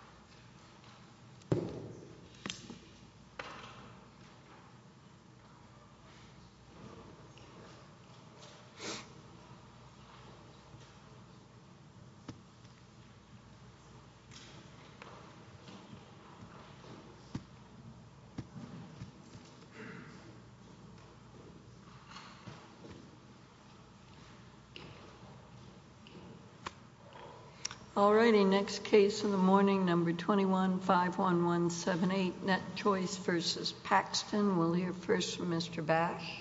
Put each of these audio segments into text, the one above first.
, 21-51178, Net Choice versus Paxton. We'll hear first from Mr. Bash.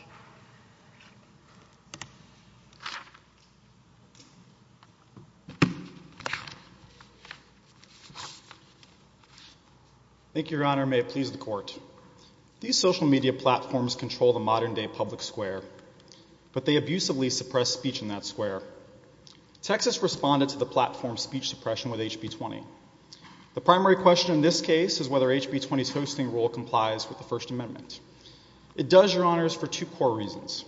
Thank you, Your Honor. May it please the Court. These social media platforms control the modern-day public square, but they abusively suppress speech in that square. Texas responded to the platform's speech suppression with the HB 20. The primary question in this case is whether HB 20's hosting rule complies with the First Amendment. It does, Your Honor, for two core reasons.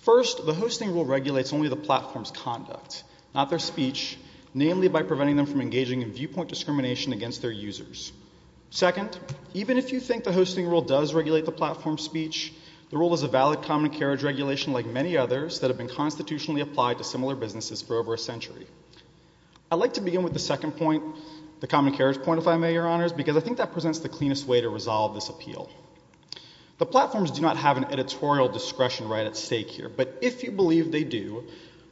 First, the hosting rule regulates only the platform's conduct, not their speech, namely by preventing them from engaging in viewpoint discrimination against their users. Second, even if you think the hosting rule does regulate the platform's speech, the rule is a valid common carriage regulation like many others that have been constitutionally applied to similar businesses for over a century. I'd like to begin with the second point, the common carriage point, if I may, Your Honors, because I think that presents the cleanest way to resolve this appeal. The platforms do not have an editorial discretion right at stake here, but if you believe they do,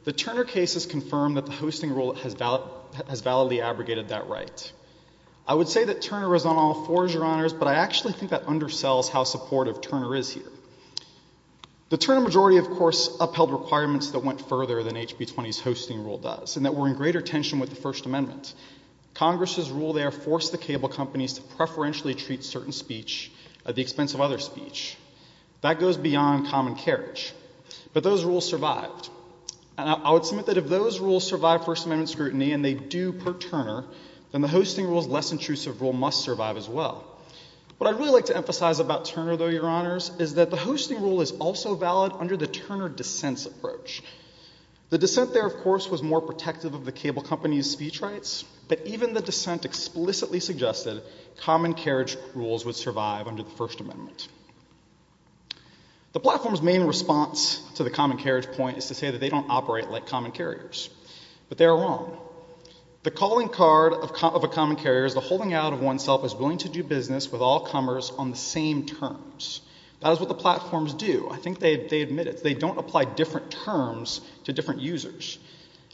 the Turner case has confirmed that the hosting rule has validly abrogated that right. I would say that Turner is on all sides of what Turner is here. The Turner majority, of course, upheld requirements that went further than HB 20's hosting rule does, and that were in greater tension with the First Amendment. Congress's rule there forced the cable companies to preferentially treat certain speech at the expense of other speech. That goes beyond common carriage. But those rules survived. And I would submit that if those rules survived First Amendment scrutiny, and they do per well. What I'd really like to emphasize about Turner, though, Your Honors, is that the hosting rule is also valid under the Turner dissents approach. The dissent there, of course, was more protective of the cable companies' speech rights, but even the dissent explicitly suggested common carriage rules would survive under the First Amendment. The platform's main response to the common carriage point is to say that they don't operate like common carriers. But they are wrong. The calling card of a common carrier is the holding out of oneself as willing to do business with all comers on the same terms. That is what the platforms do. I think they admit it. They don't apply different terms to different users.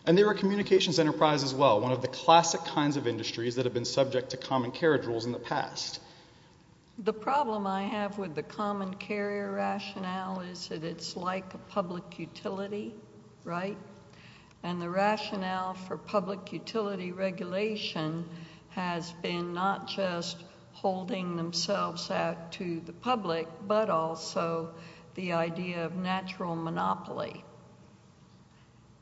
And they were a communications enterprise as well, one of the classic kinds of industries that have been subject to common carriage rules in the past. The problem I have with the common carriage rule, and the rationale for public utility regulation, has been not just holding themselves out to the public, but also the idea of natural monopoly.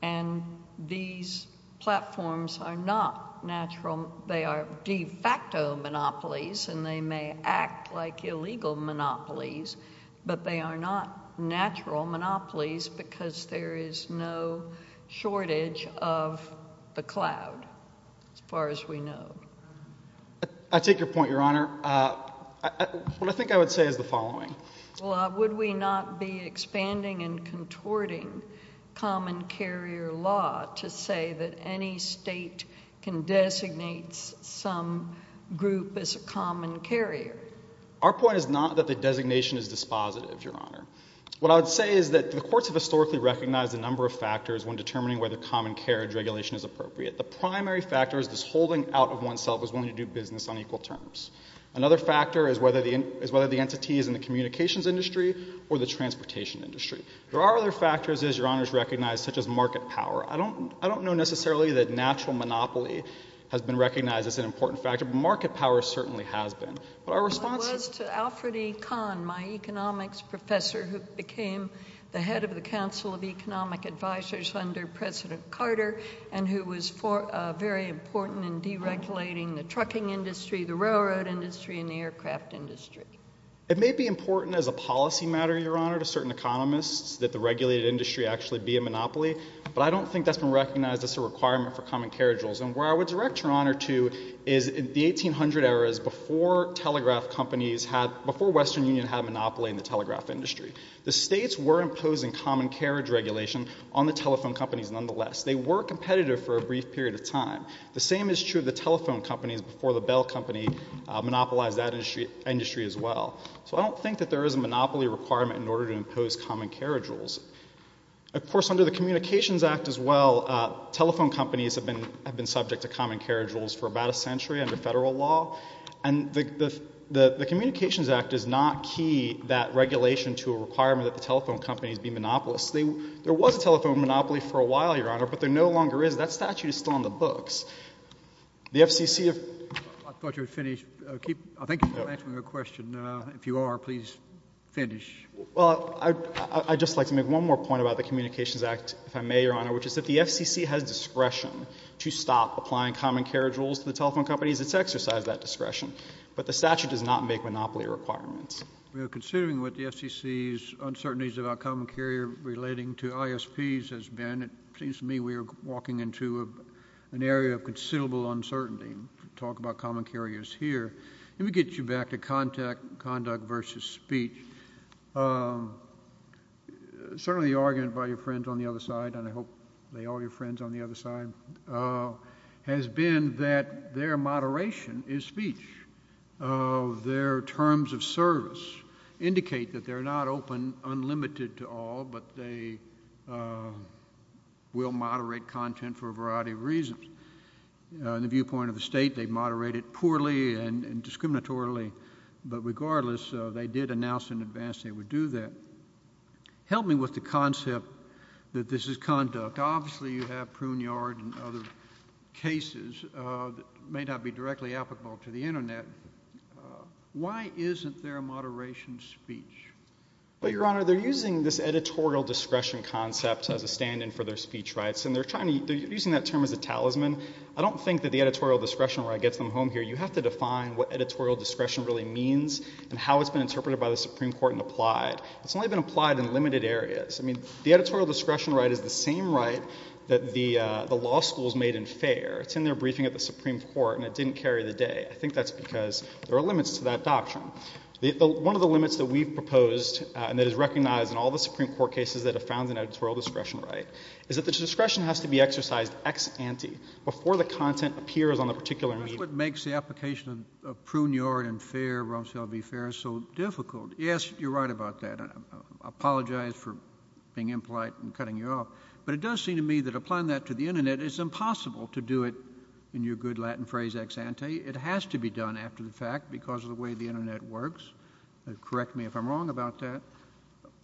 And these platforms are not natural. They are de facto monopolies, and they may act like illegal monopolies, but they are not natural monopolies because there is no shortage of the cloud, as far as we know. I take your point, Your Honor. What I think I would say is the following. Well, would we not be expanding and contorting common carrier law to say that any state can designate some group as a common carrier? Our point is not that the designation is dispositive, Your Honor. What I would say is that the courts have historically recognized a number of factors when determining whether common carriage regulation is appropriate. The primary factor is this holding out of oneself as willing to do business on equal terms. Another factor is whether the entity is in the communications industry or the transportation industry. I think that this monopoly has been recognized as an important factor, but market power certainly has been. It was to Alfred E. Kahn, my economics professor, who became the head of the Council of Economic Advisors under President Carter, and who was very important in deregulating the trucking industry, the railroad industry, and the aircraft industry. It may be important as a policy matter, Your Honor, to certain economists that the regulated industry actually be a monopoly, but I don't think that's been recognized as a requirement for common carriage rules. And where I would direct Your Honor to is the 1800 era is before telegraph companies, before Western Union had a monopoly in the telegraph industry. The states were imposing common carriage regulation on the telephone companies nonetheless. They were competitive for a brief period of time. The same is true of the telephone companies before the Bell Company monopolized that industry as well. So I don't think that there is a monopoly requirement in order to impose common carriage rules. Of course, under the Communications Act as well, telephone companies have been subject to common carriage rules for about a century under federal law. And the Communications Act does not key that regulation to a requirement that the FCC has discretion to stop applying common carriage rules to the telephone companies. It's exercised that discretion. But the statute does not make monopoly requirements. So I think that's an area of considerable uncertainty. We talk about common carriage here. Let me get you back to conduct versus speech. Certainly the argument by your friends on the other side, and I hope they are your friends on the other side, has been that their moderation is speech. Their terms of service indicate that they're not open unlimited to all, but they will moderate content for a variety of reasons. In the viewpoint of the state, they've moderated poorly and discriminatorily. But regardless, they did announce in advance they would do that. Help me with the concept that this is conduct. Obviously you have Pruneyard and other cases that may not be directly applicable to the Internet. Why isn't there a moderation speech? Well, Your Honor, they're using this editorial discretion concept as a stand-in for their speech rights. And they're using that term as a talisman. I don't think that the editorial discretion right gets them home here. You have to define what editorial discretion really means and how it's been interpreted by the Supreme Court and applied. It's only been applied in limited areas. I mean, the editorial discretion right is the same right that the law schools made in FAIR. It's in their briefing at the Supreme Court, and it didn't carry the day. I think that's because there are limits to that doctrine. One of the limits that we've proposed and that is recognized in all the Supreme Court cases that have found an editorial discretion right is that the discretion has to be exercised ex ante before the content appears on the particular media. That's what makes the application of Pruneyard and FAIR, Rumsfeld v. FAIR, so difficult. Yes, you're right about that. I apologize for being impolite and cutting you off. But it does seem to me that applying that to the Internet, it's impossible to do it in your good Latin phrase ex ante. It has to be done after the fact because of the way the Internet works. Correct me if I'm wrong about that.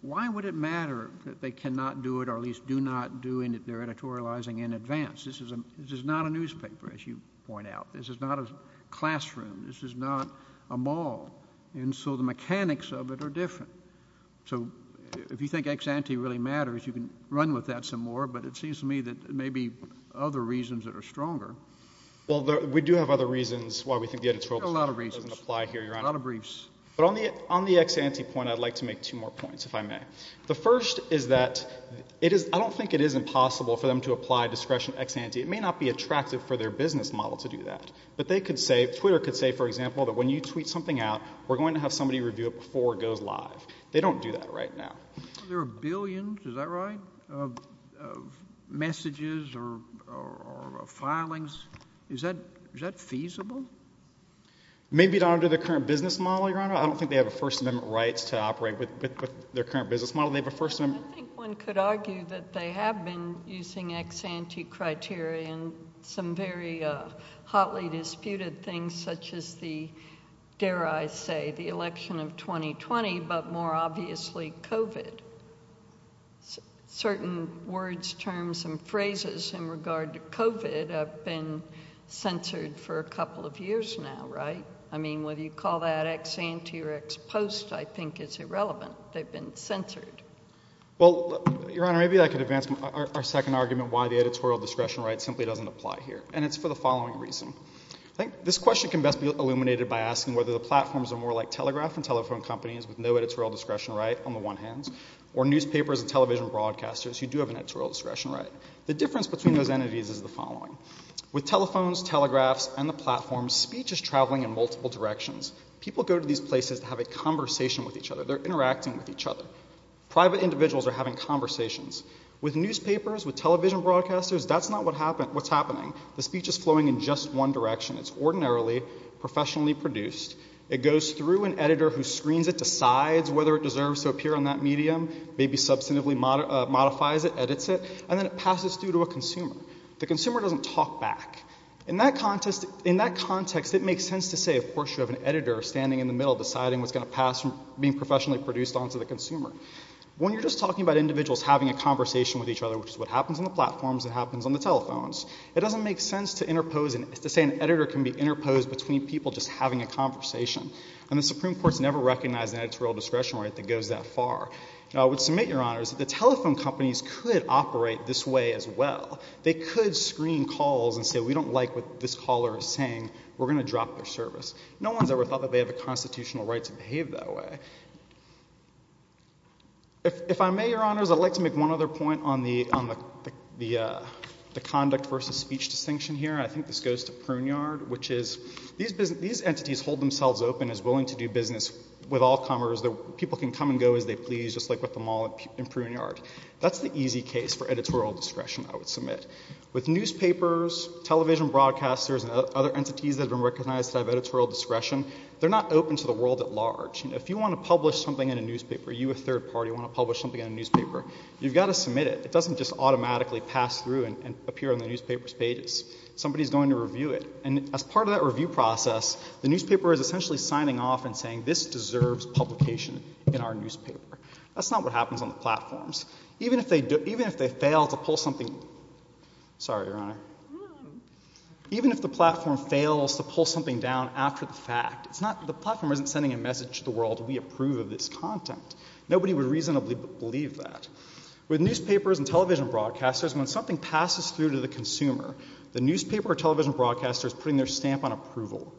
Why would it matter that they cannot do it or at least do not do it if they're editorializing in advance? This is not a newspaper, as you point out. This is not a classroom. This is not a mall. And so the mechanics of it are different. So if you think ex ante really matters, you can run with that some more, but it seems to me that there may be other reasons that are stronger. Well, we do have other reasons why we think the editorial doesn't apply here, Your Honor. A lot of briefs. But on the ex ante point, I'd like to make two more points, if I may. The first is that I don't think it is impossible for them to apply discretion ex ante. It may not be attractive for their business model to do that. But they could say, Twitter could say, for example, that when you tweet something out, we're going to have somebody review it before it goes live. They don't do that right now. There are billions. Is that right? Messages or filings. Is that is that feasible? Maybe not under the current business model, Your Honor. I don't think they have a First Amendment rights to operate with their current business model. They have a First Amendment. I think one could argue that they have been using ex ante criteria and some very hotly disputed things, such as the, dare I say, the election of 2020, but more obviously, COVID. Certain words, terms and phrases in regard to COVID have been censored for a couple of years now. Right. I mean, whether you call that ex ante or ex post, I think it's irrelevant. They've been censored. Well, Your Honor, maybe I could advance our second argument, why the editorial discretion right simply doesn't apply here. And it's for the following reason. I think this question can best be illuminated by asking whether the platforms are more like telegraph and telephone companies with no editorial discretion right on the one hand, or newspapers and television broadcasters who do have an editorial discretion right. The difference between those entities is the following. With telephones, telegraphs and the platforms, speech is traveling in multiple directions. People go to these places to have a conversation with each other. They're interacting with each other. Private individuals are having conversations. With newspapers, with television broadcasters, that's not what's happening. The speech is flowing in just one direction. It's ordinarily professionally produced. It goes through an editor who screens it, decides whether it deserves to appear on that medium, maybe substantively modifies it, edits it, and then it passes through to a consumer. The consumer doesn't talk back. In that context, it makes sense to say, of course, you have an editor standing in the middle deciding what's going to pass from being professionally produced on to the consumer. When you're just talking about individuals having a conversation with each other, which is what happens on the platforms, it happens on the telephones, it doesn't make sense to say an editor can be interposed between people just having a conversation. And the Supreme Court's never recognized an editorial discretion right that goes that far. I would submit, Your Honors, that the telephone companies could operate this way as well. They could screen calls and say, we don't like what this caller is saying. We're going to drop their service. No one's ever thought that they have a constitutional right to behave that way. If I may, Your Honors, I'd like to make one other point on the conduct versus speech distinction here. I think this goes to Pruneyard, which is these entities hold themselves open as willing to do business with all comers. People can come and go as they please, just like with them all in Pruneyard. That's the easy case for editorial discretion, I would submit. With newspapers, television broadcasters, and other entities that have been recognized to have editorial discretion, they're not open to the world at large. If you want to publish something in a newspaper, you, a third party, want to publish something in a newspaper, you've got to submit it. It doesn't just automatically pass through and appear on the newspaper's pages. Somebody's going to review it. And as part of that review process, the newspaper is essentially signing off and saying, this deserves publication in our newspaper. That's not what happens on the platforms. Even if they fail to pull something down after the fact, the platform isn't sending a message to the world, we approve of this content. Nobody would reasonably believe that. With newspapers and television broadcasters, when something passes through to the consumer, the newspaper or television broadcaster is putting their stamp of approval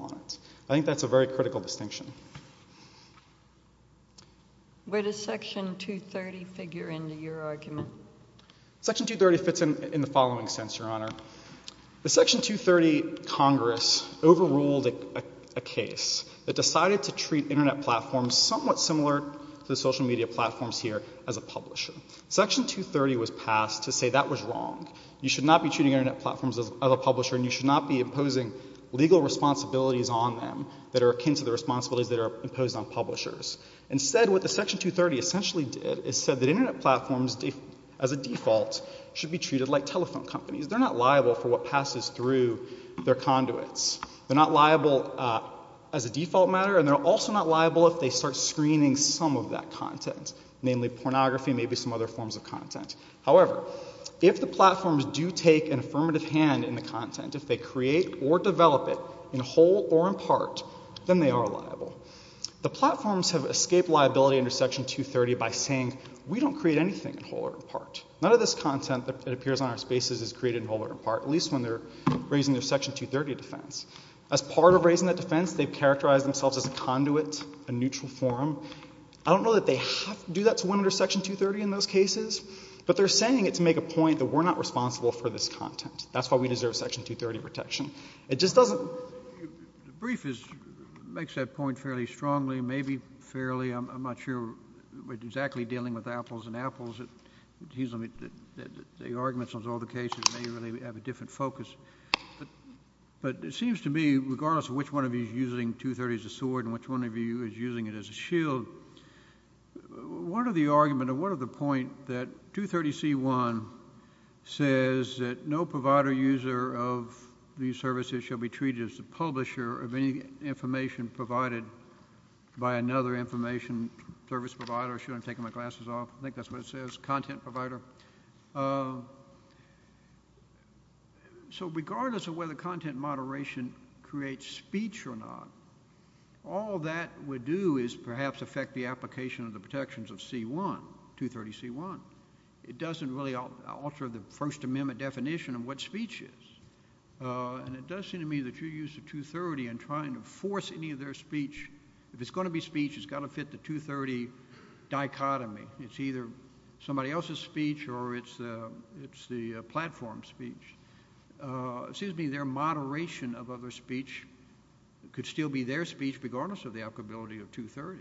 on it. I think that's a very critical distinction. Where does Section 230 figure into your argument? Section 230 fits in the following sense, Your Honor. The Section 230 Congress overruled a case that decided to treat Internet platforms somewhat similar to the social media platforms here as a publisher. Section 230 was passed to say that was wrong. You should not be treating Internet platforms as a publisher and you should not be imposing legal responsibilities on them that are akin to the responsibilities that are imposed on publishers. Instead, what the Section 230 essentially did is said that Internet platforms, as a default, should be treated like telephone companies. They're not liable for what passes through their conduits. They're not liable as a default matter and they're also not liable if they start screening some of that content, namely pornography, maybe some other forms of content. However, if the platforms do take an affirmative hand in the content, if they create or develop it in whole or in part, then they are liable. The platforms have escaped liability under Section 230 by saying, we don't create anything in whole or in part. None of this content that appears on our spaces is created in whole or in part, at least when they're raising their Section 230 defense. As part of raising that defense, they've characterized themselves as a conduit, a neutral forum. I don't know that they have to do that to win under Section 230 in those cases, but they're saying it to make a point that we're not responsible for this content. That's why we deserve Section 230 protection. It just doesn't— The brief makes that point fairly strongly, maybe fairly. I'm not sure we're exactly dealing with apples and apples. It seems to me that the arguments on all the cases may really have a different focus. But it seems to me, regardless of which one of you is using 230 as a sword and which one of you is using it as a shield, one of the arguments or one of the points that 230C1 says that no provider user of these services shall be treated as the publisher of any information provided by another information service provider. I should have taken my glasses off. I think that's what it says, content provider. So regardless of whether content moderation creates speech or not, all that would do is perhaps affect the application of the protections of C1, 230C1. It doesn't really alter the First Amendment definition of what speech is. And it does seem to me that your use of 230 in trying to force any of their speech, if it's going to be speech, it's got to fit the 230 dichotomy. It's either somebody else's speech or it's the platform speech. It seems to me their moderation of other speech could still be their speech, regardless of the applicability of 230.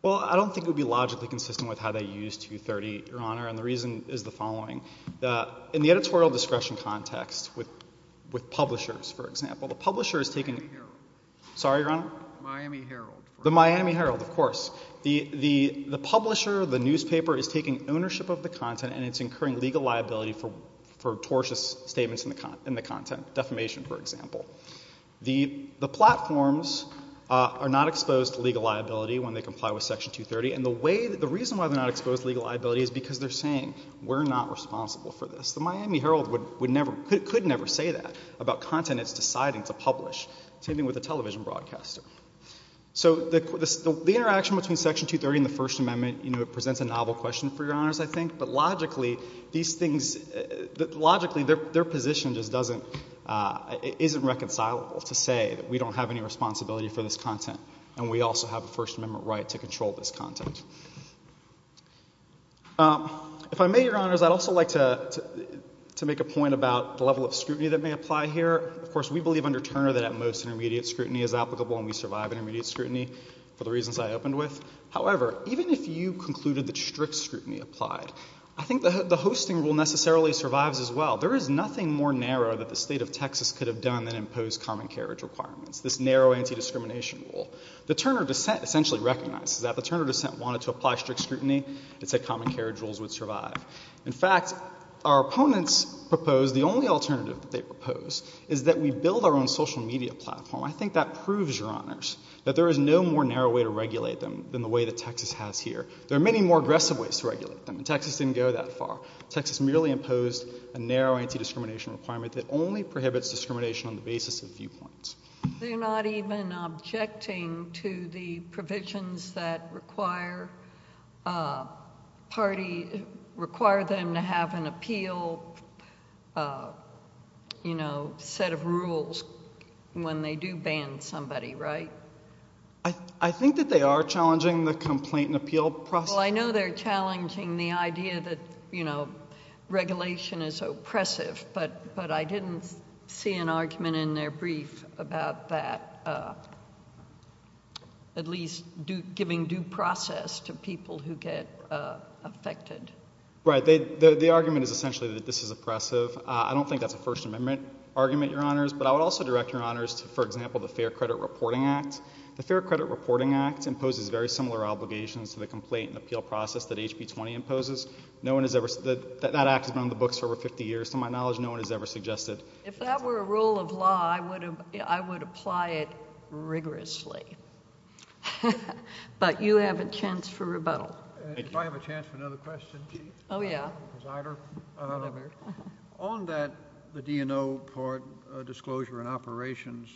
Well, I don't think it would be logically consistent with how they used 230, Your Honor, and the reason is the following. In the editorial discretion context with publishers, for example, the publisher is taking— I'm sorry, Your Honor. The Miami Herald. The Miami Herald, of course. The publisher, the newspaper, is taking ownership of the content and it's incurring legal liability for tortious statements in the content, defamation, for example. The platforms are not exposed to legal liability when they comply with Section 230, and the reason why they're not exposed to legal liability is because they're saying, we're not responsible for this. The Miami Herald could never say that about content it's deciding to publish. Same thing with a television broadcaster. So the interaction between Section 230 and the First Amendment presents a novel question for Your Honors, I think, but logically these things—logically their position just doesn't—isn't reconcilable to say that we don't have any responsibility for this content and we also have a First Amendment right to control this content. If I may, Your Honors, I'd also like to make a point about the level of scrutiny that may apply here. Of course, we believe under Turner that at most intermediate scrutiny is applicable and we survive intermediate scrutiny for the reasons I opened with. However, even if you concluded that strict scrutiny applied, I think the hosting rule necessarily survives as well. There is nothing more narrow that the state of Texas could have done than impose common carriage requirements, this narrow anti-discrimination rule. The Turner dissent essentially recognizes that. The Turner dissent wanted to apply strict scrutiny. It said common carriage rules would survive. In fact, our opponents proposed—the only alternative that they proposed is that we build our own social media platform. I think that proves, Your Honors, that there is no more narrow way to regulate them than the way that Texas has here. There are many more aggressive ways to regulate them, and Texas didn't go that far. Texas merely imposed a narrow anti-discrimination requirement that only prohibits discrimination on the basis of viewpoints. They're not even objecting to the provisions that require party— require them to have an appeal, you know, set of rules when they do ban somebody, right? I think that they are challenging the complaint and appeal process. Well, I know they're challenging the idea that, you know, regulation is oppressive, but I didn't see an argument in their brief about that at least giving due process to people who get affected. Right. The argument is essentially that this is oppressive. I don't think that's a First Amendment argument, Your Honors, but I would also direct Your Honors to, for example, the Fair Credit Reporting Act. The Fair Credit Reporting Act imposes very similar obligations to the complaint and appeal process that HB 20 imposes. No one has ever—that act has been on the books for over 50 years. To my knowledge, no one has ever suggested— If that were a rule of law, I would apply it rigorously. But you have a chance for rebuttal. If I have a chance for another question? Oh, yeah. On that, the D&O part, disclosure and operations,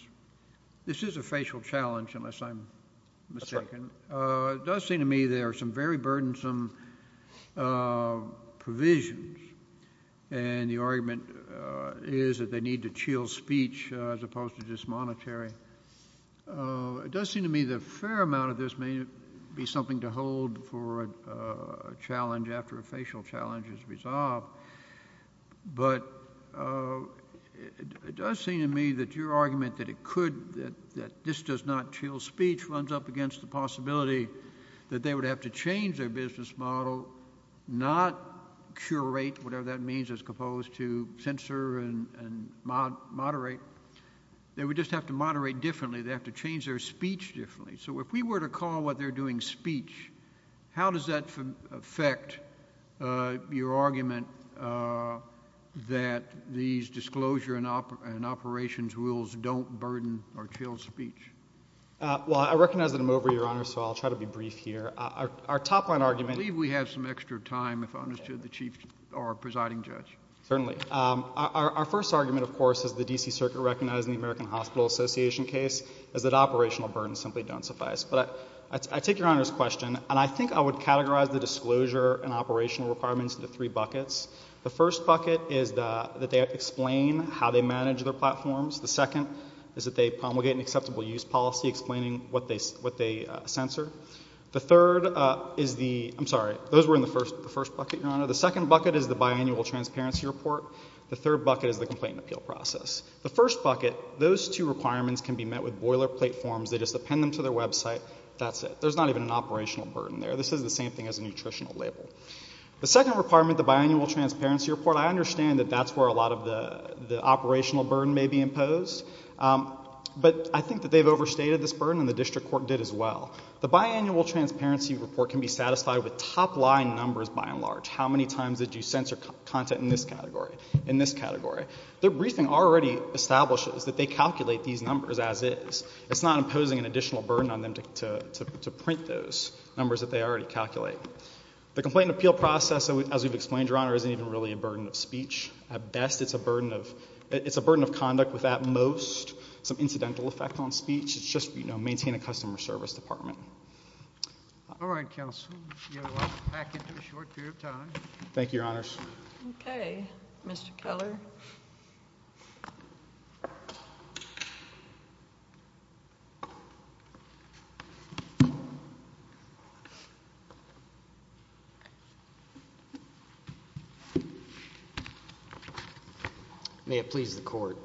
this is a facial challenge, unless I'm mistaken. It does seem to me there are some very burdensome provisions, and the argument is that they need to chill speech as opposed to just monetary. It does seem to me the fair amount of this may be something to hold for a challenge after a facial challenge is resolved, but it does seem to me that your argument that this does not chill speech runs up against the possibility that they would have to change their business model, not curate, whatever that means, as opposed to censor and moderate. They would just have to moderate differently. They have to change their speech differently. So if we were to call what they're doing speech, how does that affect your argument that these disclosure and operations rules don't burden or chill speech? Well, I recognize that I'm over, Your Honor, so I'll try to be brief here. Our top-line argument— I believe we have some extra time if I understood the Chief or Presiding Judge. Certainly. Our first argument, of course, as the D.C. Circuit recognized in the American Hospital Association case is that operational burdens simply don't suffice. But I take Your Honor's question, and I think I would categorize the disclosure and operational requirements into three buckets. The first bucket is that they explain how they manage their platforms. The second is that they promulgate an acceptable use policy explaining what they censor. The third is the—I'm sorry, those were in the first bucket, Your Honor. The second bucket is the biannual transparency report. The third bucket is the complaint and appeal process. The first bucket, those two requirements can be met with boilerplate forms. They just append them to their website. That's it. There's not even an operational burden there. This is the same thing as a nutritional label. The second requirement, the biannual transparency report, I understand that that's where a lot of the operational burden may be imposed. But I think that they've overstated this burden, and the district court did as well. The biannual transparency report can be satisfied with top-line numbers, by and large. How many times did you censor content in this category? Their briefing already establishes that they calculate these numbers as is. It's not imposing an additional burden on them to print those numbers that they already calculate. The complaint and appeal process, as we've explained, Your Honor, isn't even really a burden of speech. At best, it's a burden of—it's a burden of conduct with, at most, some incidental effect on speech. It's just, you know, maintain a customer service department. All right, counsel. We'll get back into a short period of time. Thank you, Your Honors. Okay. Mr. Keller. May it please the Court.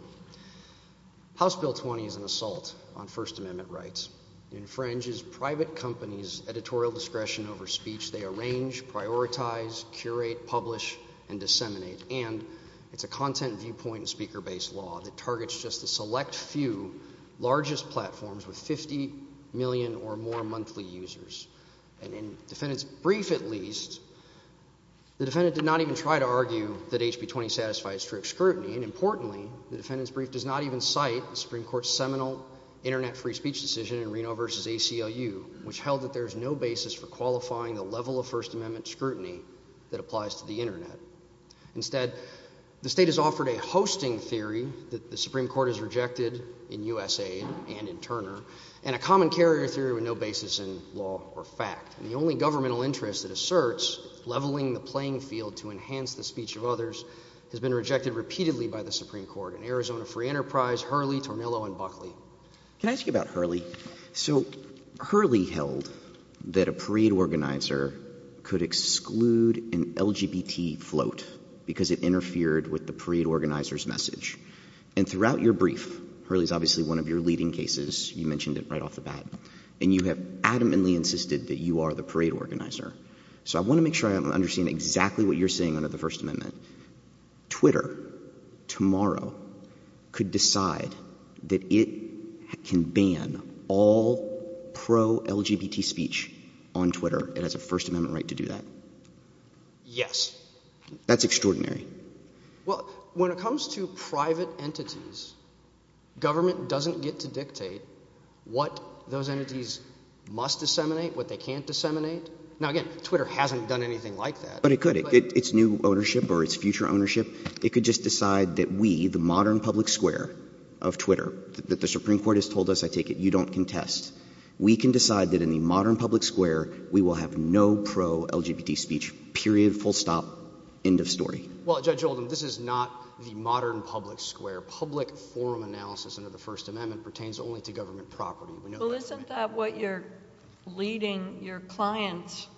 House Bill 20 is an assault on First Amendment rights. It infringes private companies' editorial discretion over speech. They arrange, prioritize, curate, publish, and disseminate. And it's a content viewpoint and speaker-based law that targets just the select few largest platforms with 50 million or more monthly users. And in the defendant's brief, at least, the defendant did not even try to argue that House Bill 20 satisfies strict scrutiny. And importantly, the defendant's brief does not even cite the Supreme Court's seminal internet-free speech decision in Reno v. ACLU, which held that there is no basis for qualifying the level of First Amendment scrutiny that applies to the internet. Instead, the state has offered a hosting theory that the Supreme Court has rejected in USAID and in Turner and a common carrier theory with no basis in law or fact. And the only governmental interest that asserts leveling the playing field to enhance the speech of others has been rejected repeatedly by the Supreme Court in Arizona Free Enterprise, Hurley, Tornillo, and Buckley. Can I ask you about Hurley? So Hurley held that a parade organizer could exclude an LGBT float because it interfered with the parade organizer's message. And throughout your brief, Hurley is obviously one of your leading cases. You mentioned it right off the bat. And you have adamantly insisted that you are the parade organizer. So I want to make sure I understand exactly what you're saying under the First Amendment. Twitter tomorrow could decide that it can ban all pro-LGBT speech on Twitter. It has a First Amendment right to do that. Yes. That's extraordinary. Well, when it comes to private entities, government doesn't get to dictate what those entities must disseminate, what they can't disseminate. Now, again, Twitter hasn't done anything like that. But it could. It's new ownership or it's future ownership. It could just decide that we, the modern public square of Twitter, that the Supreme Court has told us, I take it, you don't contest. We can decide that in the modern public square, we will have no pro-LGBT speech, period, full stop, end of story. Well, Judge Oldham, this is not the modern public square. Public forum analysis under the First Amendment pertains only to government property. Well, isn't that what you're leading your clients –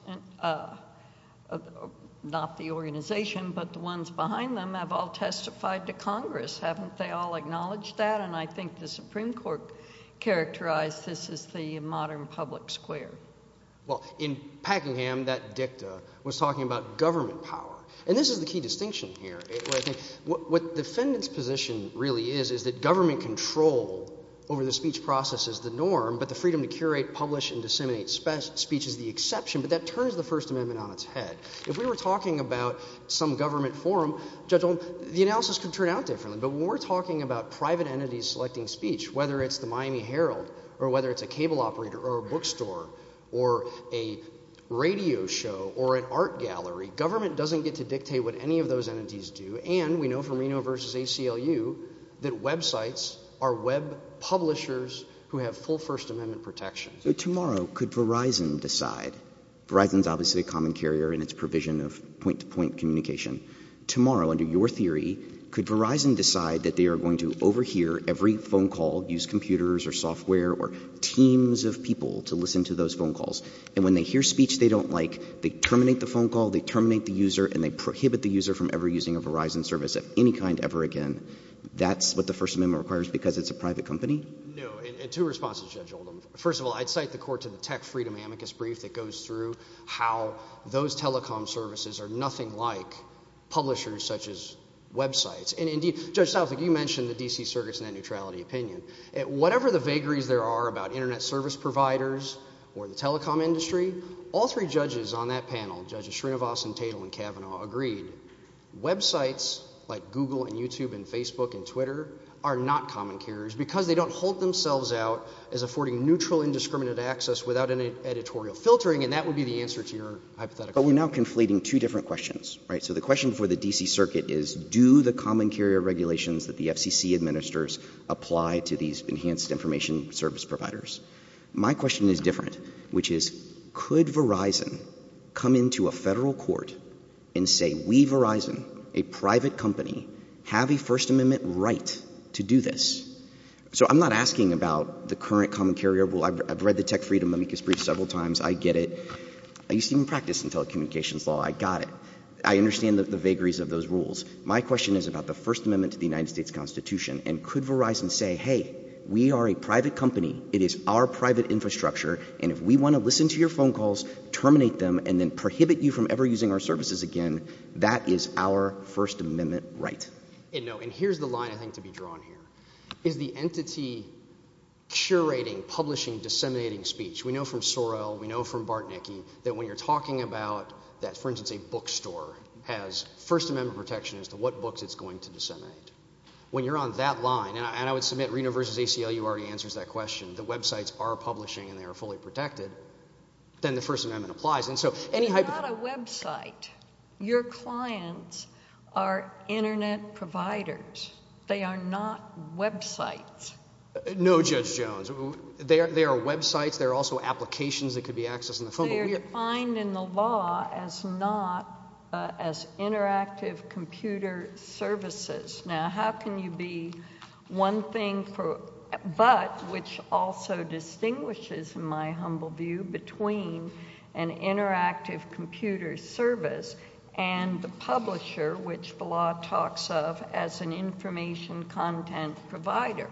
not the organization but the ones behind them – have all testified to Congress? Haven't they all acknowledged that? And I think the Supreme Court characterized this as the modern public square. Well, in Packingham, that dicta was talking about government power. And this is the key distinction here. What the defendant's position really is is that government control over the speech process is the norm but the freedom to curate, publish, and disseminate speech is the exception. But that turns the First Amendment on its head. If we were talking about some government forum, Judge Oldham, the analysis could turn out differently. But when we're talking about private entities selecting speech, whether it's the Miami Herald or whether it's a cable operator or a bookstore or a radio show or an art gallery, government doesn't get to dictate what any of those entities do. And we know from Reno v. ACLU that websites are web publishers who have full First Amendment protection. So tomorrow, could Verizon decide – Verizon is obviously a common carrier in its provision of point-to-point communication. Tomorrow, under your theory, could Verizon decide that they are going to overhear every phone call, use computers or software or teams of people to listen to those phone calls? And when they hear speech they don't like, they terminate the phone call, they terminate the user, and they prohibit the user from ever using a Verizon service of any kind ever again. That's what the First Amendment requires because it's a private company? No. And two responses, Judge Oldham. First of all, I'd cite the court to the Tech Freedom Amicus brief that goes through how those telecom services are nothing like publishers such as websites. And, indeed, Judge Southwick, you mentioned the D.C. Circuit's net neutrality opinion. Whatever the vagaries there are about internet service providers or the telecom industry, all three judges on that panel, Judges Srinivasan, Tatel, and Kavanaugh, agreed. Websites like Google and YouTube and Facebook and Twitter are not common carriers because they don't hold themselves out as affording neutral, indiscriminate access without any editorial filtering. And that would be the answer to your hypothetical. But we're now conflating two different questions. So the question for the D.C. Circuit is do the common carrier regulations that the FCC administers apply to these enhanced information service providers? My question is different, which is could Verizon come into a federal court and say we, Verizon, a private company, have a First Amendment right to do this? So I'm not asking about the current common carrier rule. I've read the Tech Freedom Amicus brief several times. I get it. I used to even practice in telecommunications law. I got it. I understand the vagaries of those rules. My question is about the First Amendment to the United States Constitution, and could Verizon say, hey, we are a private company, it is our private infrastructure, and if we want to listen to your phone calls, terminate them, and then prohibit you from ever using our services again, that is our First Amendment right? And here's the line I think to be drawn here. Is the entity curating, publishing, disseminating speech? We know from Sorrell, we know from Bartnicki that when you're talking about that, for instance, a bookstore has First Amendment protection as to what books it's going to disseminate. When you're on that line, and I would submit Reno v. ACLU already answers that question, the websites are publishing and they are fully protected, then the First Amendment applies. And so any type of – It's not a website. Your clients are Internet providers. They are not websites. No, Judge Jones. They are websites. They are also applications that could be accessed on the phone. But they are defined in the law as not – as interactive computer services. Now, how can you be one thing for – but which also distinguishes, in my humble view, between an interactive computer service and the publisher, which the law talks of as an information content provider?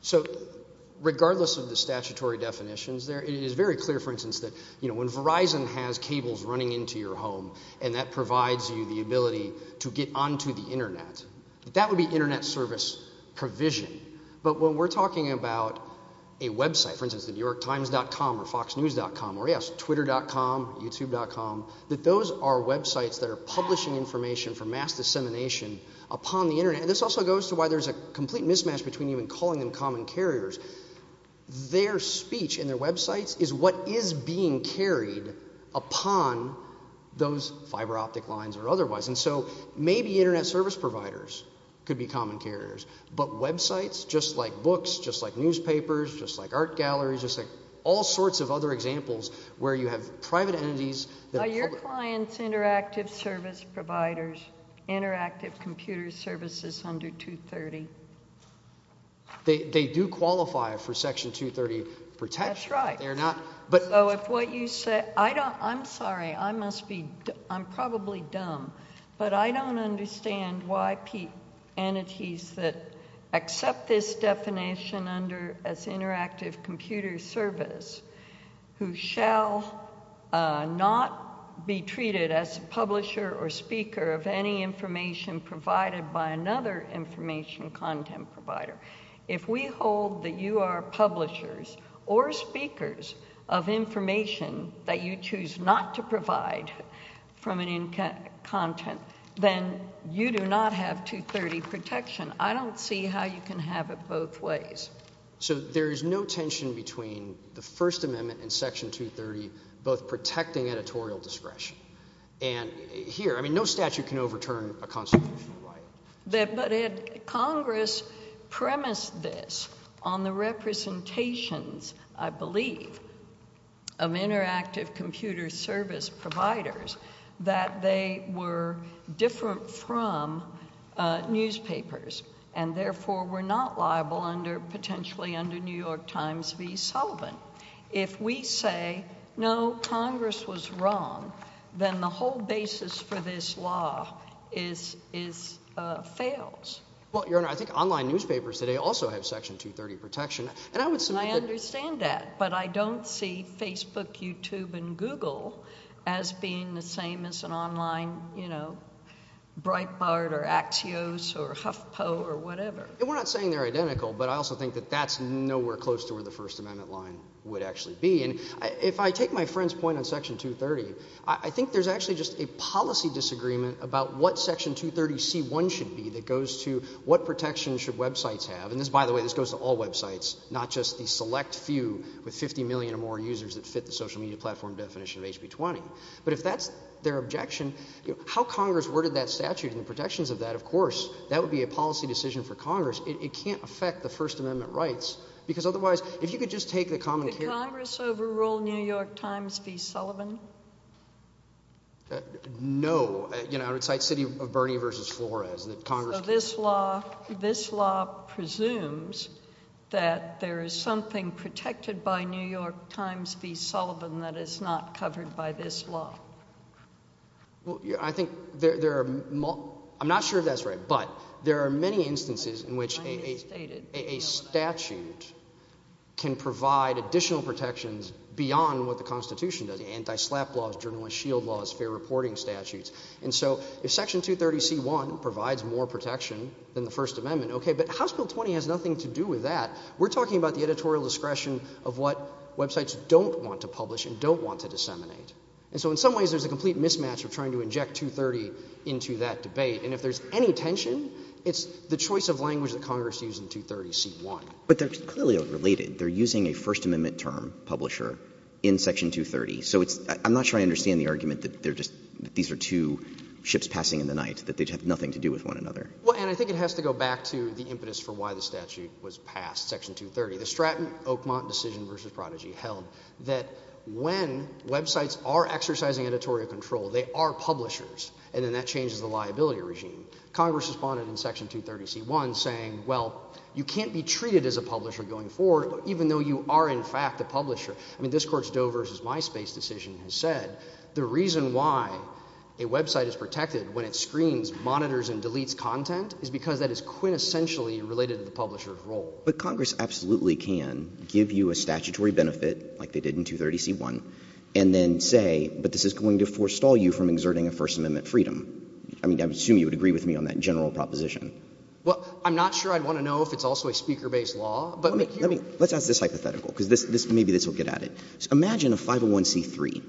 So regardless of the statutory definitions, it is very clear, for instance, that when Verizon has cables running into your home and that provides you the ability to get onto the Internet, that would be Internet service provision. But when we're talking about a website, for instance, the New York Times.com or Fox News.com or, yes, Twitter.com, YouTube.com, that those are websites that are publishing information for mass dissemination upon the Internet. And this also goes to why there's a complete mismatch between even calling them common carriers. Their speech in their websites is what is being carried upon those fiber optic lines or otherwise. And so maybe Internet service providers could be common carriers, but websites, just like books, just like newspapers, just like art galleries, just like all sorts of other examples where you have private entities that are public. Are your clients interactive service providers, interactive computer services under 230? They do qualify for Section 230 protection. That's right. So if what you say – I'm sorry. I must be – I'm probably dumb, but I don't understand why entities that accept this definition under as interactive computer service who shall not be treated as a publisher or speaker of any information provided by another information content provider. If we hold that you are publishers or speakers of information that you choose not to provide from an content, then you do not have 230 protection. I don't see how you can have it both ways. So there is no tension between the First Amendment and Section 230 both protecting editorial discretion. And here – I mean no statute can overturn a constitutional right. But had Congress premised this on the representations, I believe, of interactive computer service providers, that they were different from newspapers and therefore were not liable under – potentially under New York Times v. Sullivan. If we say no, Congress was wrong, then the whole basis for this law is – fails. Well, Your Honor, I think online newspapers today also have Section 230 protection. And I would – And I understand that, but I don't see Facebook, YouTube, and Google as being the same as an online Breitbart or Axios or HuffPo or whatever. We're not saying they're identical, but I also think that that's nowhere close to where the First Amendment line would actually be. And if I take my friend's point on Section 230, I think there's actually just a policy disagreement about what Section 230c.1 should be that goes to what protection should websites have. And this, by the way, this goes to all websites, not just the select few with 50 million or more users that fit the social media platform definition of HB 20. But if that's their objection, how Congress worded that statute and the protections of that, of course, that would be a policy decision for Congress. It can't affect the First Amendment rights because otherwise if you could just take the common care – Did Congress overrule New York Times v. Sullivan? No. I would cite City of Bernie v. Flores that Congress – So this law presumes that there is something protected by New York Times v. Sullivan that is not covered by this law? Well, I think there are – I'm not sure if that's right, but there are many instances in which a statute can provide additional protections beyond what the Constitution does. And so if Section 230c1 provides more protection than the First Amendment, okay, but House Bill 20 has nothing to do with that. We're talking about the editorial discretion of what websites don't want to publish and don't want to disseminate. And so in some ways there's a complete mismatch of trying to inject 230 into that debate. And if there's any tension, it's the choice of language that Congress used in 230c1. But they're clearly overrelated. They're using a First Amendment term, publisher, in Section 230. So it's – I'm not sure I understand the argument that they're just – that these are two ships passing in the night, that they have nothing to do with one another. Well, and I think it has to go back to the impetus for why the statute was passed, Section 230. The Stratton-Oakmont decision v. Prodigy held that when websites are exercising editorial control, they are publishers, and then that changes the liability regime. Congress responded in Section 230c1 saying, well, you can't be treated as a publisher going forward even though you are in fact a publisher. I mean this Court's Doe v. Myspace decision has said the reason why a website is protected when it screens, monitors, and deletes content is because that is quintessentially related to the publisher's role. But Congress absolutely can give you a statutory benefit like they did in 230c1 and then say, but this is going to forestall you from exerting a First Amendment freedom. I mean, I would assume you would agree with me on that general proposition. Well, I'm not sure I'd want to know if it's also a speaker-based law. Let's ask this hypothetical because maybe this will get at it. Imagine a 501c3,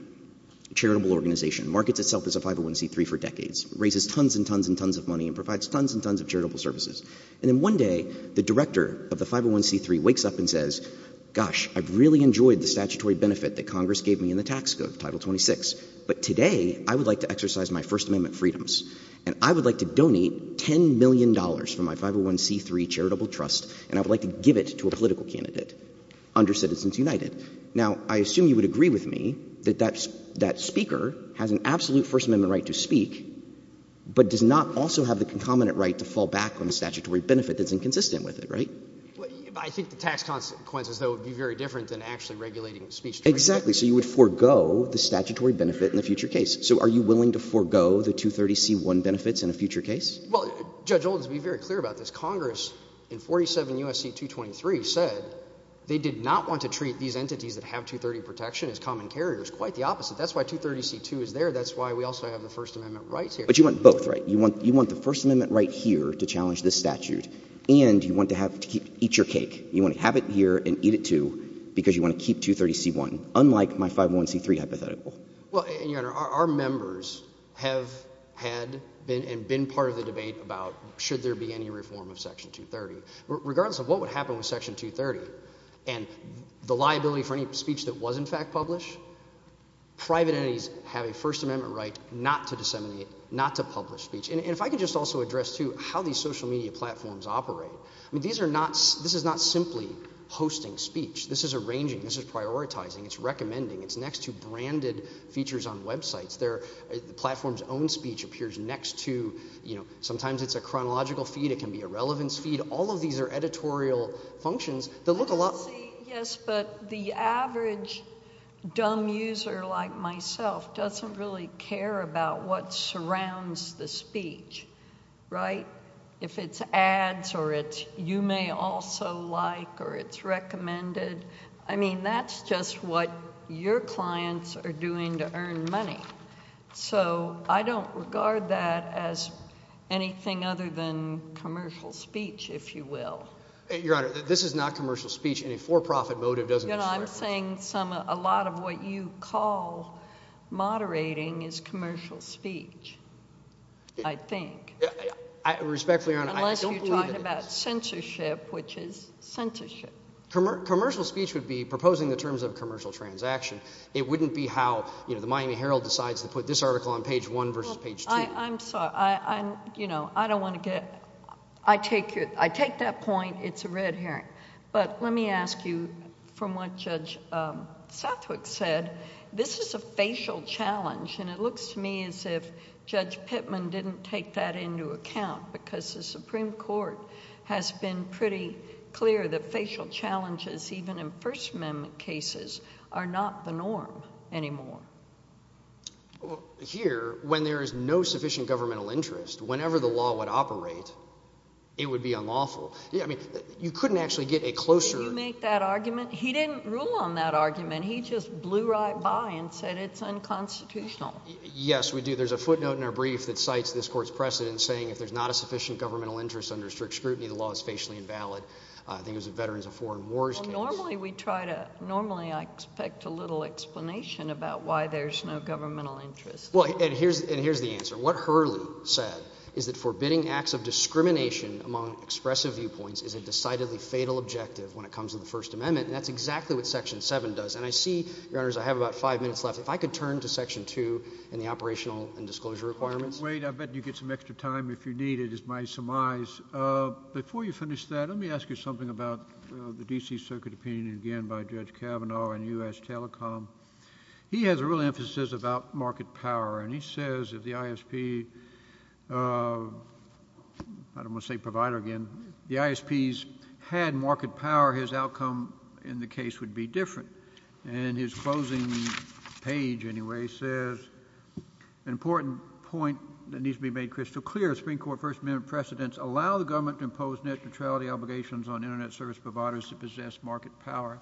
a charitable organization. It markets itself as a 501c3 for decades. It raises tons and tons and tons of money and provides tons and tons of charitable services. And then one day the director of the 501c3 wakes up and says, gosh, I've really enjoyed the statutory benefit that Congress gave me in the tax code, Title 26. But today I would like to exercise my First Amendment freedoms, and I would like to donate $10 million from my 501c3 charitable trust, and I would like to give it to a political candidate under Citizens United. Now, I assume you would agree with me that that speaker has an absolute First Amendment right to speak but does not also have the concomitant right to fall back on a statutory benefit that's inconsistent with it, right? I think the tax consequences, though, would be very different than actually regulating speech. Exactly, so you would forego the statutory benefit in a future case. So are you willing to forego the 230c1 benefits in a future case? Well, Judge Oldham, to be very clear about this, Congress in 47 U.S.C. 223 said they did not want to treat these entities that have 230 protection as common carriers. Quite the opposite. That's why 230c2 is there. That's why we also have the First Amendment rights here. But you want both, right? You want the First Amendment right here to challenge this statute, and you want to have to eat your cake. You want to have it here and eat it too because you want to keep 230c1, unlike my 501c3 hypothetical. Well, and, Your Honor, our members have had and been part of the debate about should there be any reform of Section 230. Regardless of what would happen with Section 230 and the liability for any speech that was in fact published, private entities have a First Amendment right not to disseminate, not to publish speech. And if I could just also address, too, how these social media platforms operate. I mean these are not – this is not simply hosting speech. This is arranging. This is prioritizing. It's recommending. It's next to branded features on websites. The platform's own speech appears next to – sometimes it's a chronological feed. It can be a relevance feed. All of these are editorial functions that look a lot – Right? If it's ads or it's you may also like or it's recommended, I mean that's just what your clients are doing to earn money. So I don't regard that as anything other than commercial speech, if you will. Your Honor, this is not commercial speech in a for-profit motive, does it? I'm saying some – a lot of what you call moderating is commercial speech. I think. Respectfully, Your Honor, I don't believe it is. Unless you're talking about censorship, which is censorship. Commercial speech would be proposing the terms of a commercial transaction. It wouldn't be how the Miami Herald decides to put this article on page one versus page two. I'm sorry. I don't want to get – I take that point. It's a red herring. But let me ask you from what Judge Southwick said. This is a facial challenge, and it looks to me as if Judge Pittman didn't take that into account because the Supreme Court has been pretty clear that facial challenges, even in First Amendment cases, are not the norm anymore. Here, when there is no sufficient governmental interest, whenever the law would operate, it would be unlawful. I mean you couldn't actually get a closer – Did he make that argument? He didn't rule on that argument. He just blew right by and said it's unconstitutional. Yes, we do. There's a footnote in our brief that cites this court's precedent saying if there's not a sufficient governmental interest under strict scrutiny, the law is facially invalid. I think it was a Veterans of Foreign Wars case. Normally we try to – normally I expect a little explanation about why there's no governmental interest. Well, and here's the answer. What Hurley said is that forbidding acts of discrimination among expressive viewpoints is a decidedly fatal objective when it comes to the First Amendment, and that's exactly what Section 7 does. And I see, Your Honors, I have about five minutes left. If I could turn to Section 2 and the operational and disclosure requirements. Wait. I'll bet you get some extra time if you need it is my surmise. Before you finish that, let me ask you something about the D.C. Circuit opinion again by Judge Kavanaugh and U.S. Telecom. He has a real emphasis about market power, and he says if the ISP – I don't want to say provider again – if the ISPs had market power, his outcome in the case would be different. And in his closing page, anyway, he says an important point that needs to be made crystal clear is Supreme Court First Amendment precedents allow the government to impose net neutrality obligations on Internet service providers that possess market power.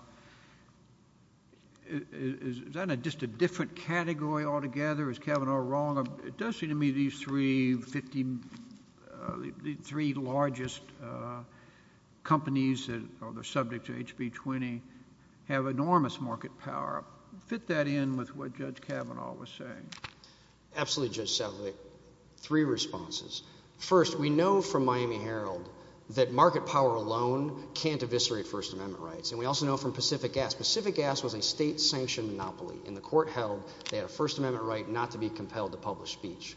Is that just a different category altogether? Is Kavanaugh wrong? It does seem to me these three largest companies that are subject to HB 20 have enormous market power. Fit that in with what Judge Kavanaugh was saying. Absolutely, Judge Sedgwick. Three responses. First, we know from Miami Herald that market power alone can't eviscerate First Amendment rights, and we also know from Pacific Gas. Pacific Gas was a state-sanctioned monopoly, and the court held they had a First Amendment right not to be compelled to publish speech.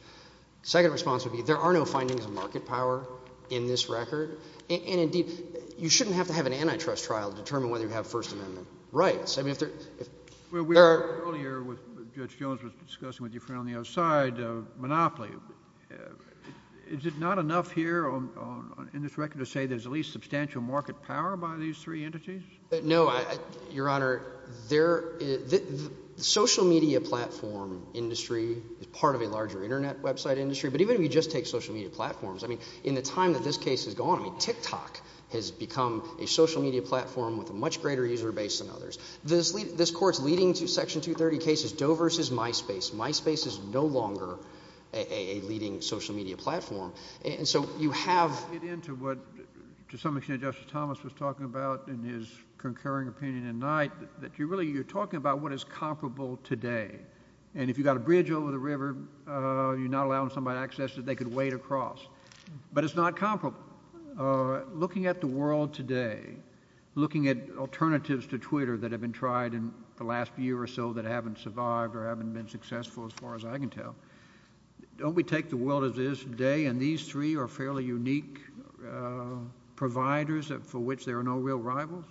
Second response would be there are no findings of market power in this record, and indeed you shouldn't have to have an antitrust trial to determine whether you have First Amendment rights. Well, we heard earlier what Judge Jones was discussing with your friend on the other side of monopoly. Is it not enough here in this record to say there's at least substantial market power by these three entities? No, Your Honor. The social media platform industry is part of a larger Internet website industry, but even if you just take social media platforms, I mean in the time that this case has gone, I mean TikTok has become a social media platform with a much greater user base than others. This court's leading section 230 case is Doe versus MySpace. MySpace is no longer a leading social media platform. And so you have— Let me get into what to some extent Justice Thomas was talking about in his concurring opinion at night, that you're really talking about what is comparable today. And if you've got a bridge over the river, you're not allowing somebody access that they could wade across. But it's not comparable. Now, looking at the world today, looking at alternatives to Twitter that have been tried in the last year or so that haven't survived or haven't been successful as far as I can tell, don't we take the world as it is today and these three are fairly unique providers for which there are no real rivals?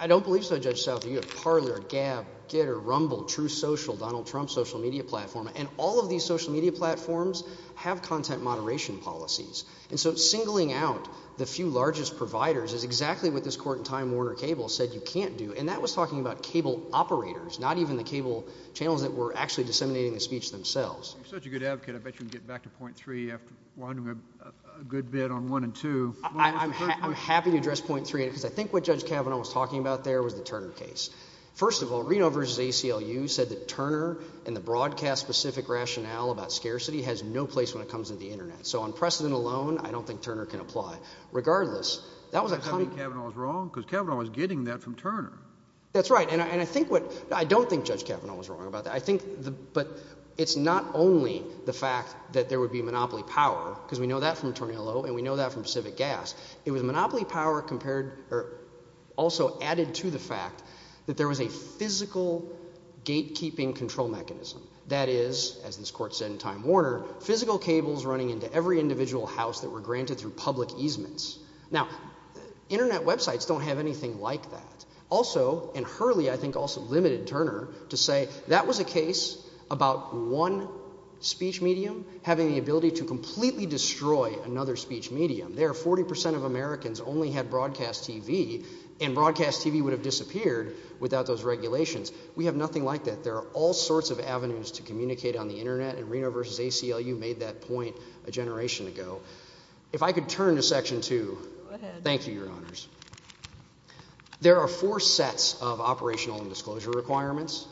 I don't believe so, Judge Southerly. You have Parler, Gab, Gitter, Rumble, True Social, Donald Trump's social media platform. And all of these social media platforms have content moderation policies. And so singling out the few largest providers is exactly what this court in Time Warner Cable said you can't do. And that was talking about cable operators, not even the cable channels that were actually disseminating the speech themselves. You're such a good advocate. I bet you can get back to point three after winding up a good bit on one and two. I'm happy to address point three because I think what Judge Kavanaugh was talking about there was the Turner case. First of all, Reno versus ACLU said that Turner and the broadcast-specific rationale about scarcity has no place when it comes to the internet. So on precedent alone, I don't think Turner can apply. Regardless, that was a kind of— Do you think Kavanaugh was wrong? Because Kavanaugh was getting that from Turner. That's right, and I think what—I don't think Judge Kavanaugh was wrong about that. I think the—but it's not only the fact that there would be monopoly power, because we know that from Turner LO and we know that from Pacific Gas. It was monopoly power compared—or also added to the fact that there was a physical gatekeeping control mechanism. That is, as this court said in Time Warner, physical cables running into every individual house that were granted through public easements. Now, internet websites don't have anything like that. Also, and Hurley I think also limited Turner to say that was a case about one speech medium having the ability to completely destroy another speech medium. There, 40 percent of Americans only had broadcast TV, and broadcast TV would have disappeared without those regulations. We have nothing like that. There are all sorts of avenues to communicate on the internet, and Reno v. ACLU made that point a generation ago. If I could turn to Section 2. Go ahead. Thank you, Your Honors. There are four sets of operational and disclosure requirements.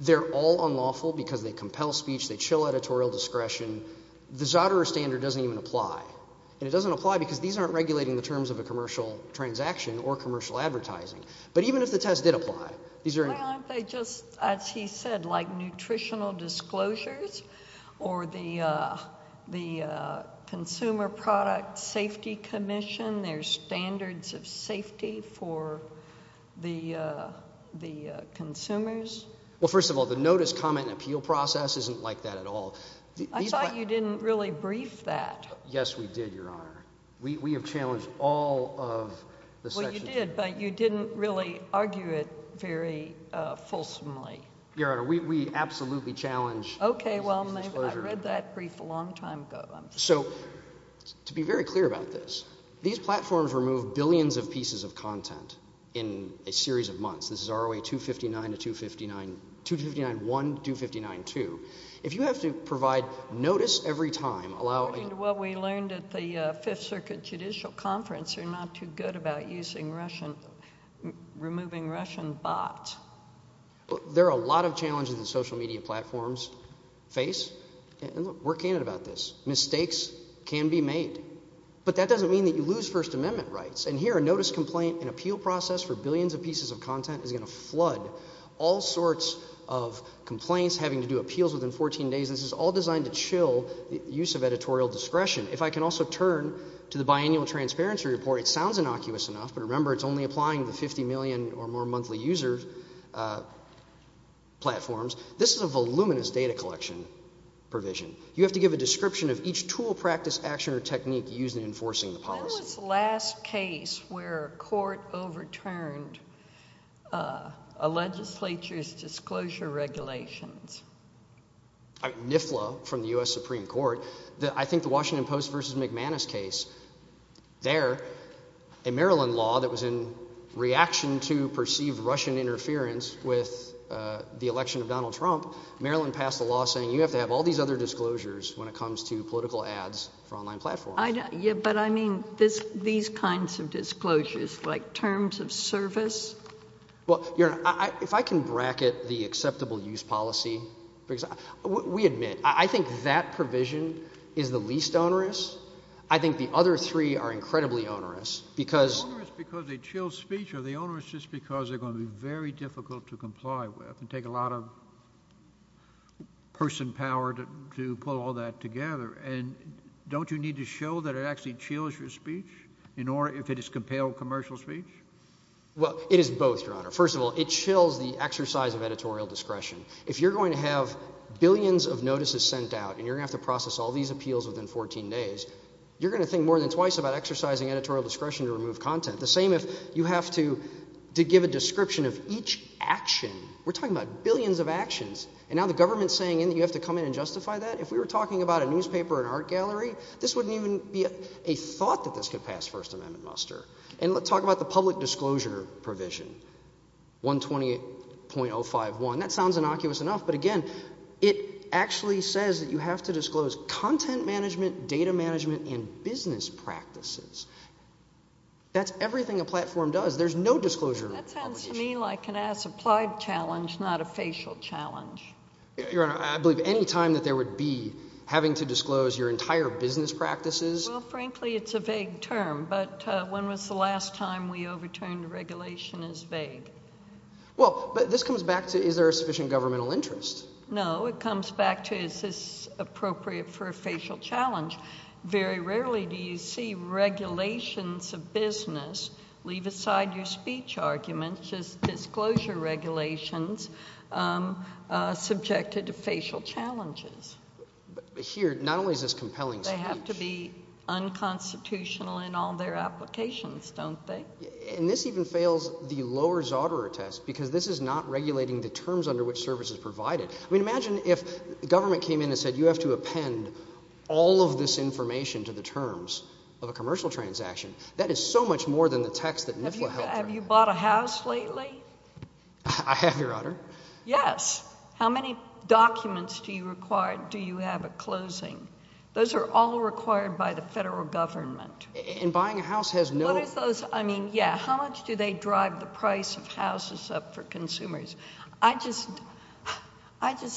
They're all unlawful because they compel speech. They chill editorial discretion. The Zotero standard doesn't even apply, and it doesn't apply because these aren't regulating the terms of a commercial transaction or commercial advertising. But even if the test did apply, these are— Why aren't they just, as he said, like nutritional disclosures or the Consumer Product Safety Commission, their standards of safety for the consumers? Well, first of all, the notice, comment, and appeal process isn't like that at all. I thought you didn't really brief that. Yes, we did, Your Honor. We have challenged all of the sections. Yes, you did, but you didn't really argue it very fulsomely. Your Honor, we absolutely challenge these disclosures. Okay. Well, maybe I read that brief a long time ago. So to be very clear about this, these platforms remove billions of pieces of content in a series of months. This is ROA 259 to 259—259.1, 259.2. If you have to provide notice every time, allow— According to what we learned at the Fifth Circuit Judicial Conference, they're not too good about using Russian—removing Russian bots. There are a lot of challenges that social media platforms face, and we're candid about this. Mistakes can be made, but that doesn't mean that you lose First Amendment rights. And here a notice, complaint, and appeal process for billions of pieces of content is going to flood all sorts of complaints, having to do appeals within 14 days. This is all designed to chill the use of editorial discretion. If I can also turn to the biennial transparency report, it sounds innocuous enough, but remember it's only applying to 50 million or more monthly user platforms. This is a voluminous data collection provision. You have to give a description of each tool, practice, action, or technique used in enforcing the policy. When was the last case where a court overturned a legislature's disclosure regulations? NIFLA from the U.S. Supreme Court. I think the Washington Post v. McManus case. There, a Maryland law that was in reaction to perceived Russian interference with the election of Donald Trump, Maryland passed a law saying you have to have all these other disclosures when it comes to political ads for online platforms. But I mean these kinds of disclosures, like terms of service. Well, Your Honor, if I can bracket the acceptable use policy. We admit, I think that provision is the least onerous. I think the other three are incredibly onerous. Are they onerous because they chill speech or are they onerous just because they're going to be very difficult to comply with and take a lot of person power to pull all that together? And don't you need to show that it actually chills your speech if it is compelled commercial speech? Well, it is both, Your Honor. First of all, it chills the exercise of editorial discretion. If you're going to have billions of notices sent out and you're going to have to process all these appeals within 14 days, you're going to think more than twice about exercising editorial discretion to remove content. The same if you have to give a description of each action. We're talking about billions of actions. And now the government is saying you have to come in and justify that? If we were talking about a newspaper or an art gallery, this wouldn't even be a thought that this could pass First Amendment muster. And let's talk about the public disclosure provision, 120.051. That sounds innocuous enough, but, again, it actually says that you have to disclose content management, data management, and business practices. That's everything a platform does. There's no disclosure obligation. That sounds to me like an as-applied challenge, not a facial challenge. Your Honor, I believe any time that there would be having to disclose your entire business practices. Well, frankly, it's a vague term, but when was the last time we overturned a regulation as vague? Well, but this comes back to is there a sufficient governmental interest? No, it comes back to is this appropriate for a facial challenge? Very rarely do you see regulations of business leave aside your speech arguments, just disclosure regulations subjected to facial challenges. But here not only is this compelling speech. But they have to be unconstitutional in all their applications, don't they? And this even fails the Lower Zoderer test because this is not regulating the terms under which service is provided. I mean imagine if the government came in and said you have to append all of this information to the terms of a commercial transaction. That is so much more than the text that NIFLA helped write. Have you bought a house lately? I have, Your Honor. How many documents do you require do you have at closing? Those are all required by the federal government. And buying a house has no— What is those? I mean, yeah, how much do they drive the price of houses up for consumers? I just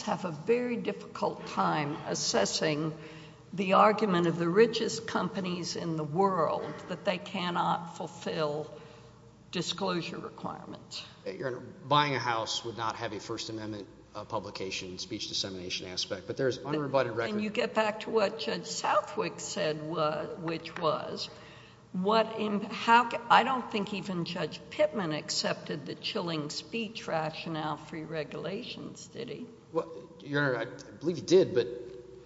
have a very difficult time assessing the argument of the richest companies in the world that they cannot fulfill disclosure requirements. Your Honor, buying a house would not have a First Amendment publication speech dissemination aspect. But there is unrebutted record— And you get back to what Judge Southwick said, which was what—I don't think even Judge Pittman accepted the chilling speech rationale for your regulations, did he? Your Honor, I believe he did. But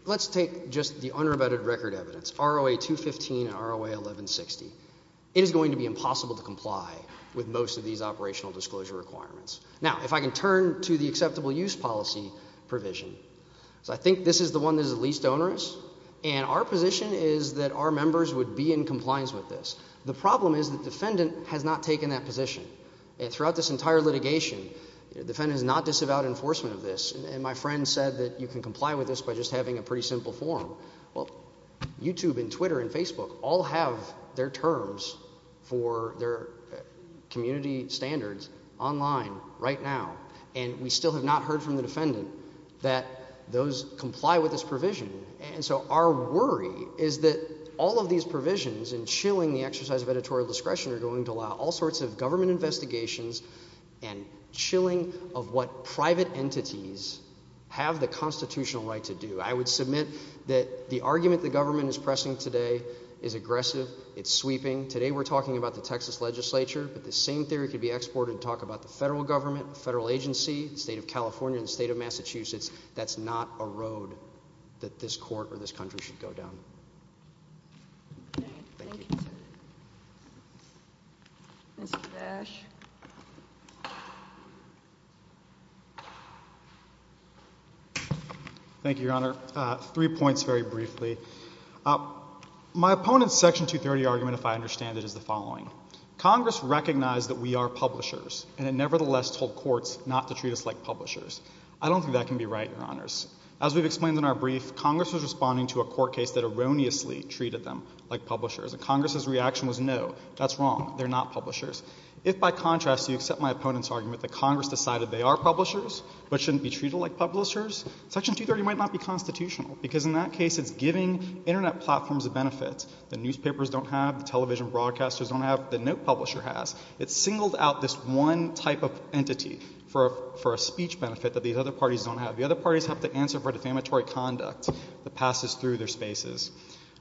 let's take just the unrebutted record evidence, ROA 215 and ROA 1160. It is going to be impossible to comply with most of these operational disclosure requirements. Now, if I can turn to the acceptable use policy provision. So I think this is the one that is the least onerous. And our position is that our members would be in compliance with this. The problem is that the defendant has not taken that position. And throughout this entire litigation, the defendant has not disavowed enforcement of this. And my friend said that you can comply with this by just having a pretty simple form. Well, YouTube and Twitter and Facebook all have their terms for their community standards online right now. And we still have not heard from the defendant that those comply with this provision. And so our worry is that all of these provisions and chilling the exercise of editorial discretion are going to allow all sorts of government investigations and chilling of what private entities have the constitutional right to do. I would submit that the argument the government is pressing today is aggressive. It's sweeping. Today we're talking about the Texas legislature. But the same theory could be exported to talk about the federal government, the federal agency, the state of California, the state of Massachusetts. That's not a road that this court or this country should go down. Thank you. Mr. Dash. Thank you, Your Honor. Three points very briefly. My opponent's Section 230 argument, if I understand it, is the following. Congress recognized that we are publishers and it nevertheless told courts not to treat us like publishers. I don't think that can be right, Your Honors. As we've explained in our brief, Congress was responding to a court case that erroneously treated them like publishers. And Congress's reaction was no, that's wrong, they're not publishers. If, by contrast, you accept my opponent's argument that Congress decided they are publishers but shouldn't be treated like publishers, Section 230 might not be constitutional because in that case it's giving Internet platforms a benefit. The newspapers don't have, the television broadcasters don't have, the note publisher has. It's singled out this one type of entity for a speech benefit that these other parties don't have. The other parties have to answer for defamatory conduct that passes through their spaces.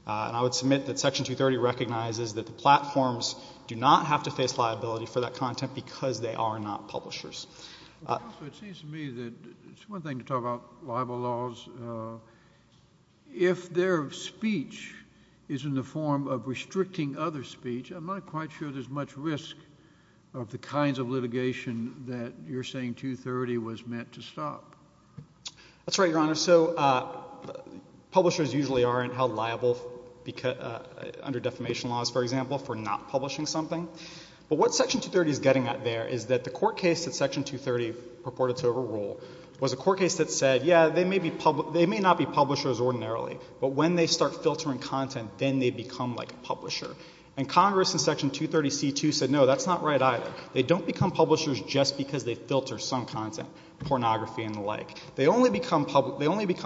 And I would submit that Section 230 recognizes that the platforms do not have to face liability for that content because they are not publishers. It seems to me that it's one thing to talk about libel laws. If their speech is in the form of restricting other speech, I'm not quite sure there's much risk of the kinds of litigation that you're saying 230 was meant to stop. That's right, Your Honor. So publishers usually aren't held liable under defamation laws, for example, for not publishing something. But what Section 230 is getting at there is that the court case that Section 230 purported to overrule was a court case that said, yeah, they may not be publishers ordinarily, but when they start filtering content, then they become like a publisher. And Congress in Section 230c2 said no, that's not right either. They don't become publishers just because they filter some content, pornography and the like. They only become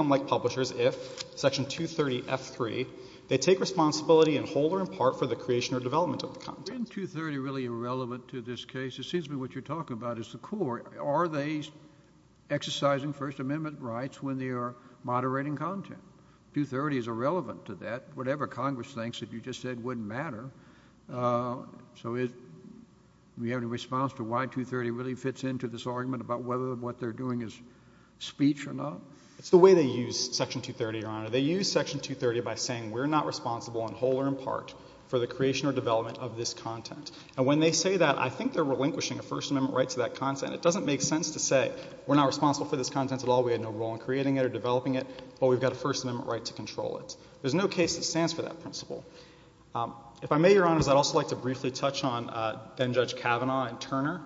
like publishers if Section 230f3, they take responsibility in whole or in part for the creation or development of the content. Isn't 230 really irrelevant to this case? It seems to me what you're talking about is the court. Are they exercising First Amendment rights when they are moderating content? 230 is irrelevant to that. Whatever Congress thinks that you just said wouldn't matter. So do we have any response to why 230 really fits into this argument about whether what they're doing is speech or not? It's the way they use Section 230, Your Honor. They use Section 230 by saying we're not responsible in whole or in part for the creation or development of this content. And when they say that, I think they're relinquishing a First Amendment right to that content. It doesn't make sense to say we're not responsible for this content at all, we had no role in creating it or developing it, but we've got a First Amendment right to control it. There's no case that stands for that principle. If I may, Your Honors, I'd also like to briefly touch on then-Judge Kavanaugh and Turner.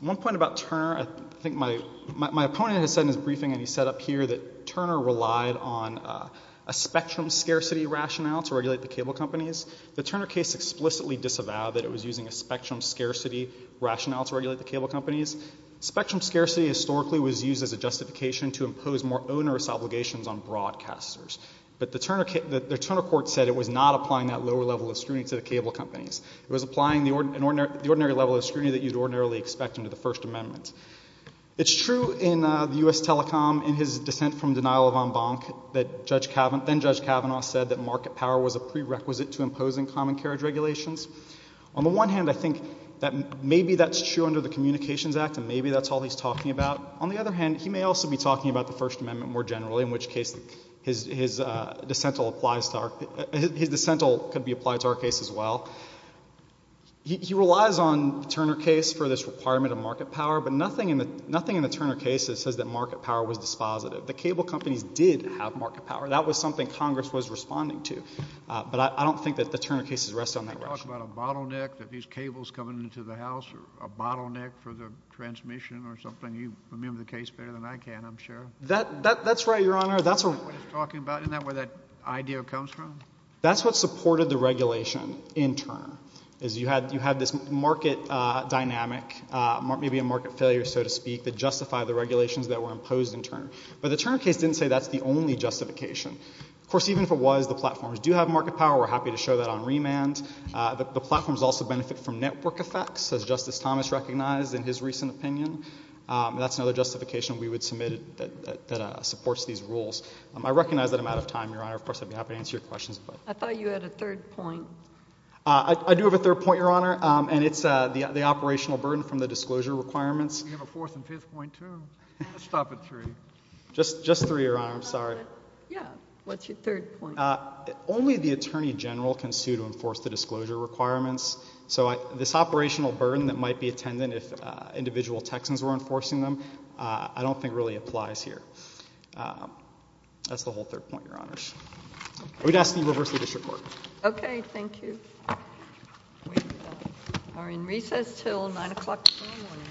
One point about Turner, I think my opponent has said in his briefing, and he said up here, that Turner relied on a spectrum scarcity rationale to regulate the cable companies. The Turner case explicitly disavowed that it was using a spectrum scarcity rationale to regulate the cable companies. Spectrum scarcity historically was used as a justification to impose more onerous obligations on broadcasters. But the Turner court said it was not applying that lower level of scrutiny to the cable companies. It was applying the ordinary level of scrutiny that you'd ordinarily expect under the First Amendment. It's true in the U.S. Telecom, in his dissent from denial of en banc, that then-Judge Kavanaugh said that market power was a prerequisite to imposing common carriage regulations. On the one hand, I think that maybe that's true under the Communications Act, and maybe that's all he's talking about. On the other hand, he may also be talking about the First Amendment more generally, in which case his dissent could be applied to our case as well. He relies on the Turner case for this requirement of market power, but nothing in the Turner case says that market power was dispositive. The cable companies did have market power. That was something Congress was responding to. But I don't think that the Turner case is resting on that rationale. Can you talk about a bottleneck that these cables coming into the house or a bottleneck for the transmission or something? You remember the case better than I can, I'm sure. That's right, Your Honor. Isn't that what he's talking about? Isn't that where that idea comes from? That's what supported the regulation in Turner, is you had this market dynamic, maybe a market failure, so to speak, that justified the regulations that were imposed in Turner. But the Turner case didn't say that's the only justification. Of course, even if it was, the platforms do have market power. We're happy to show that on remand. The platforms also benefit from network effects, as Justice Thomas recognized in his recent opinion. That's another justification we would submit that supports these rules. I recognize that I'm out of time, Your Honor. Of course, I'd be happy to answer your questions. I thought you had a third point. I do have a third point, Your Honor, and it's the operational burden from the disclosure requirements. We have a fourth and fifth point too. Let's stop at three. Just three, Your Honor. I'm sorry. Yeah, what's your third point? Only the attorney general can sue to enforce the disclosure requirements. So this operational burden that might be attendant if individual Texans were enforcing them, I don't think really applies here. That's the whole third point, Your Honor. I would ask that you reverse the district court. Okay. Thank you. We are in recess until 9 o'clock tomorrow morning.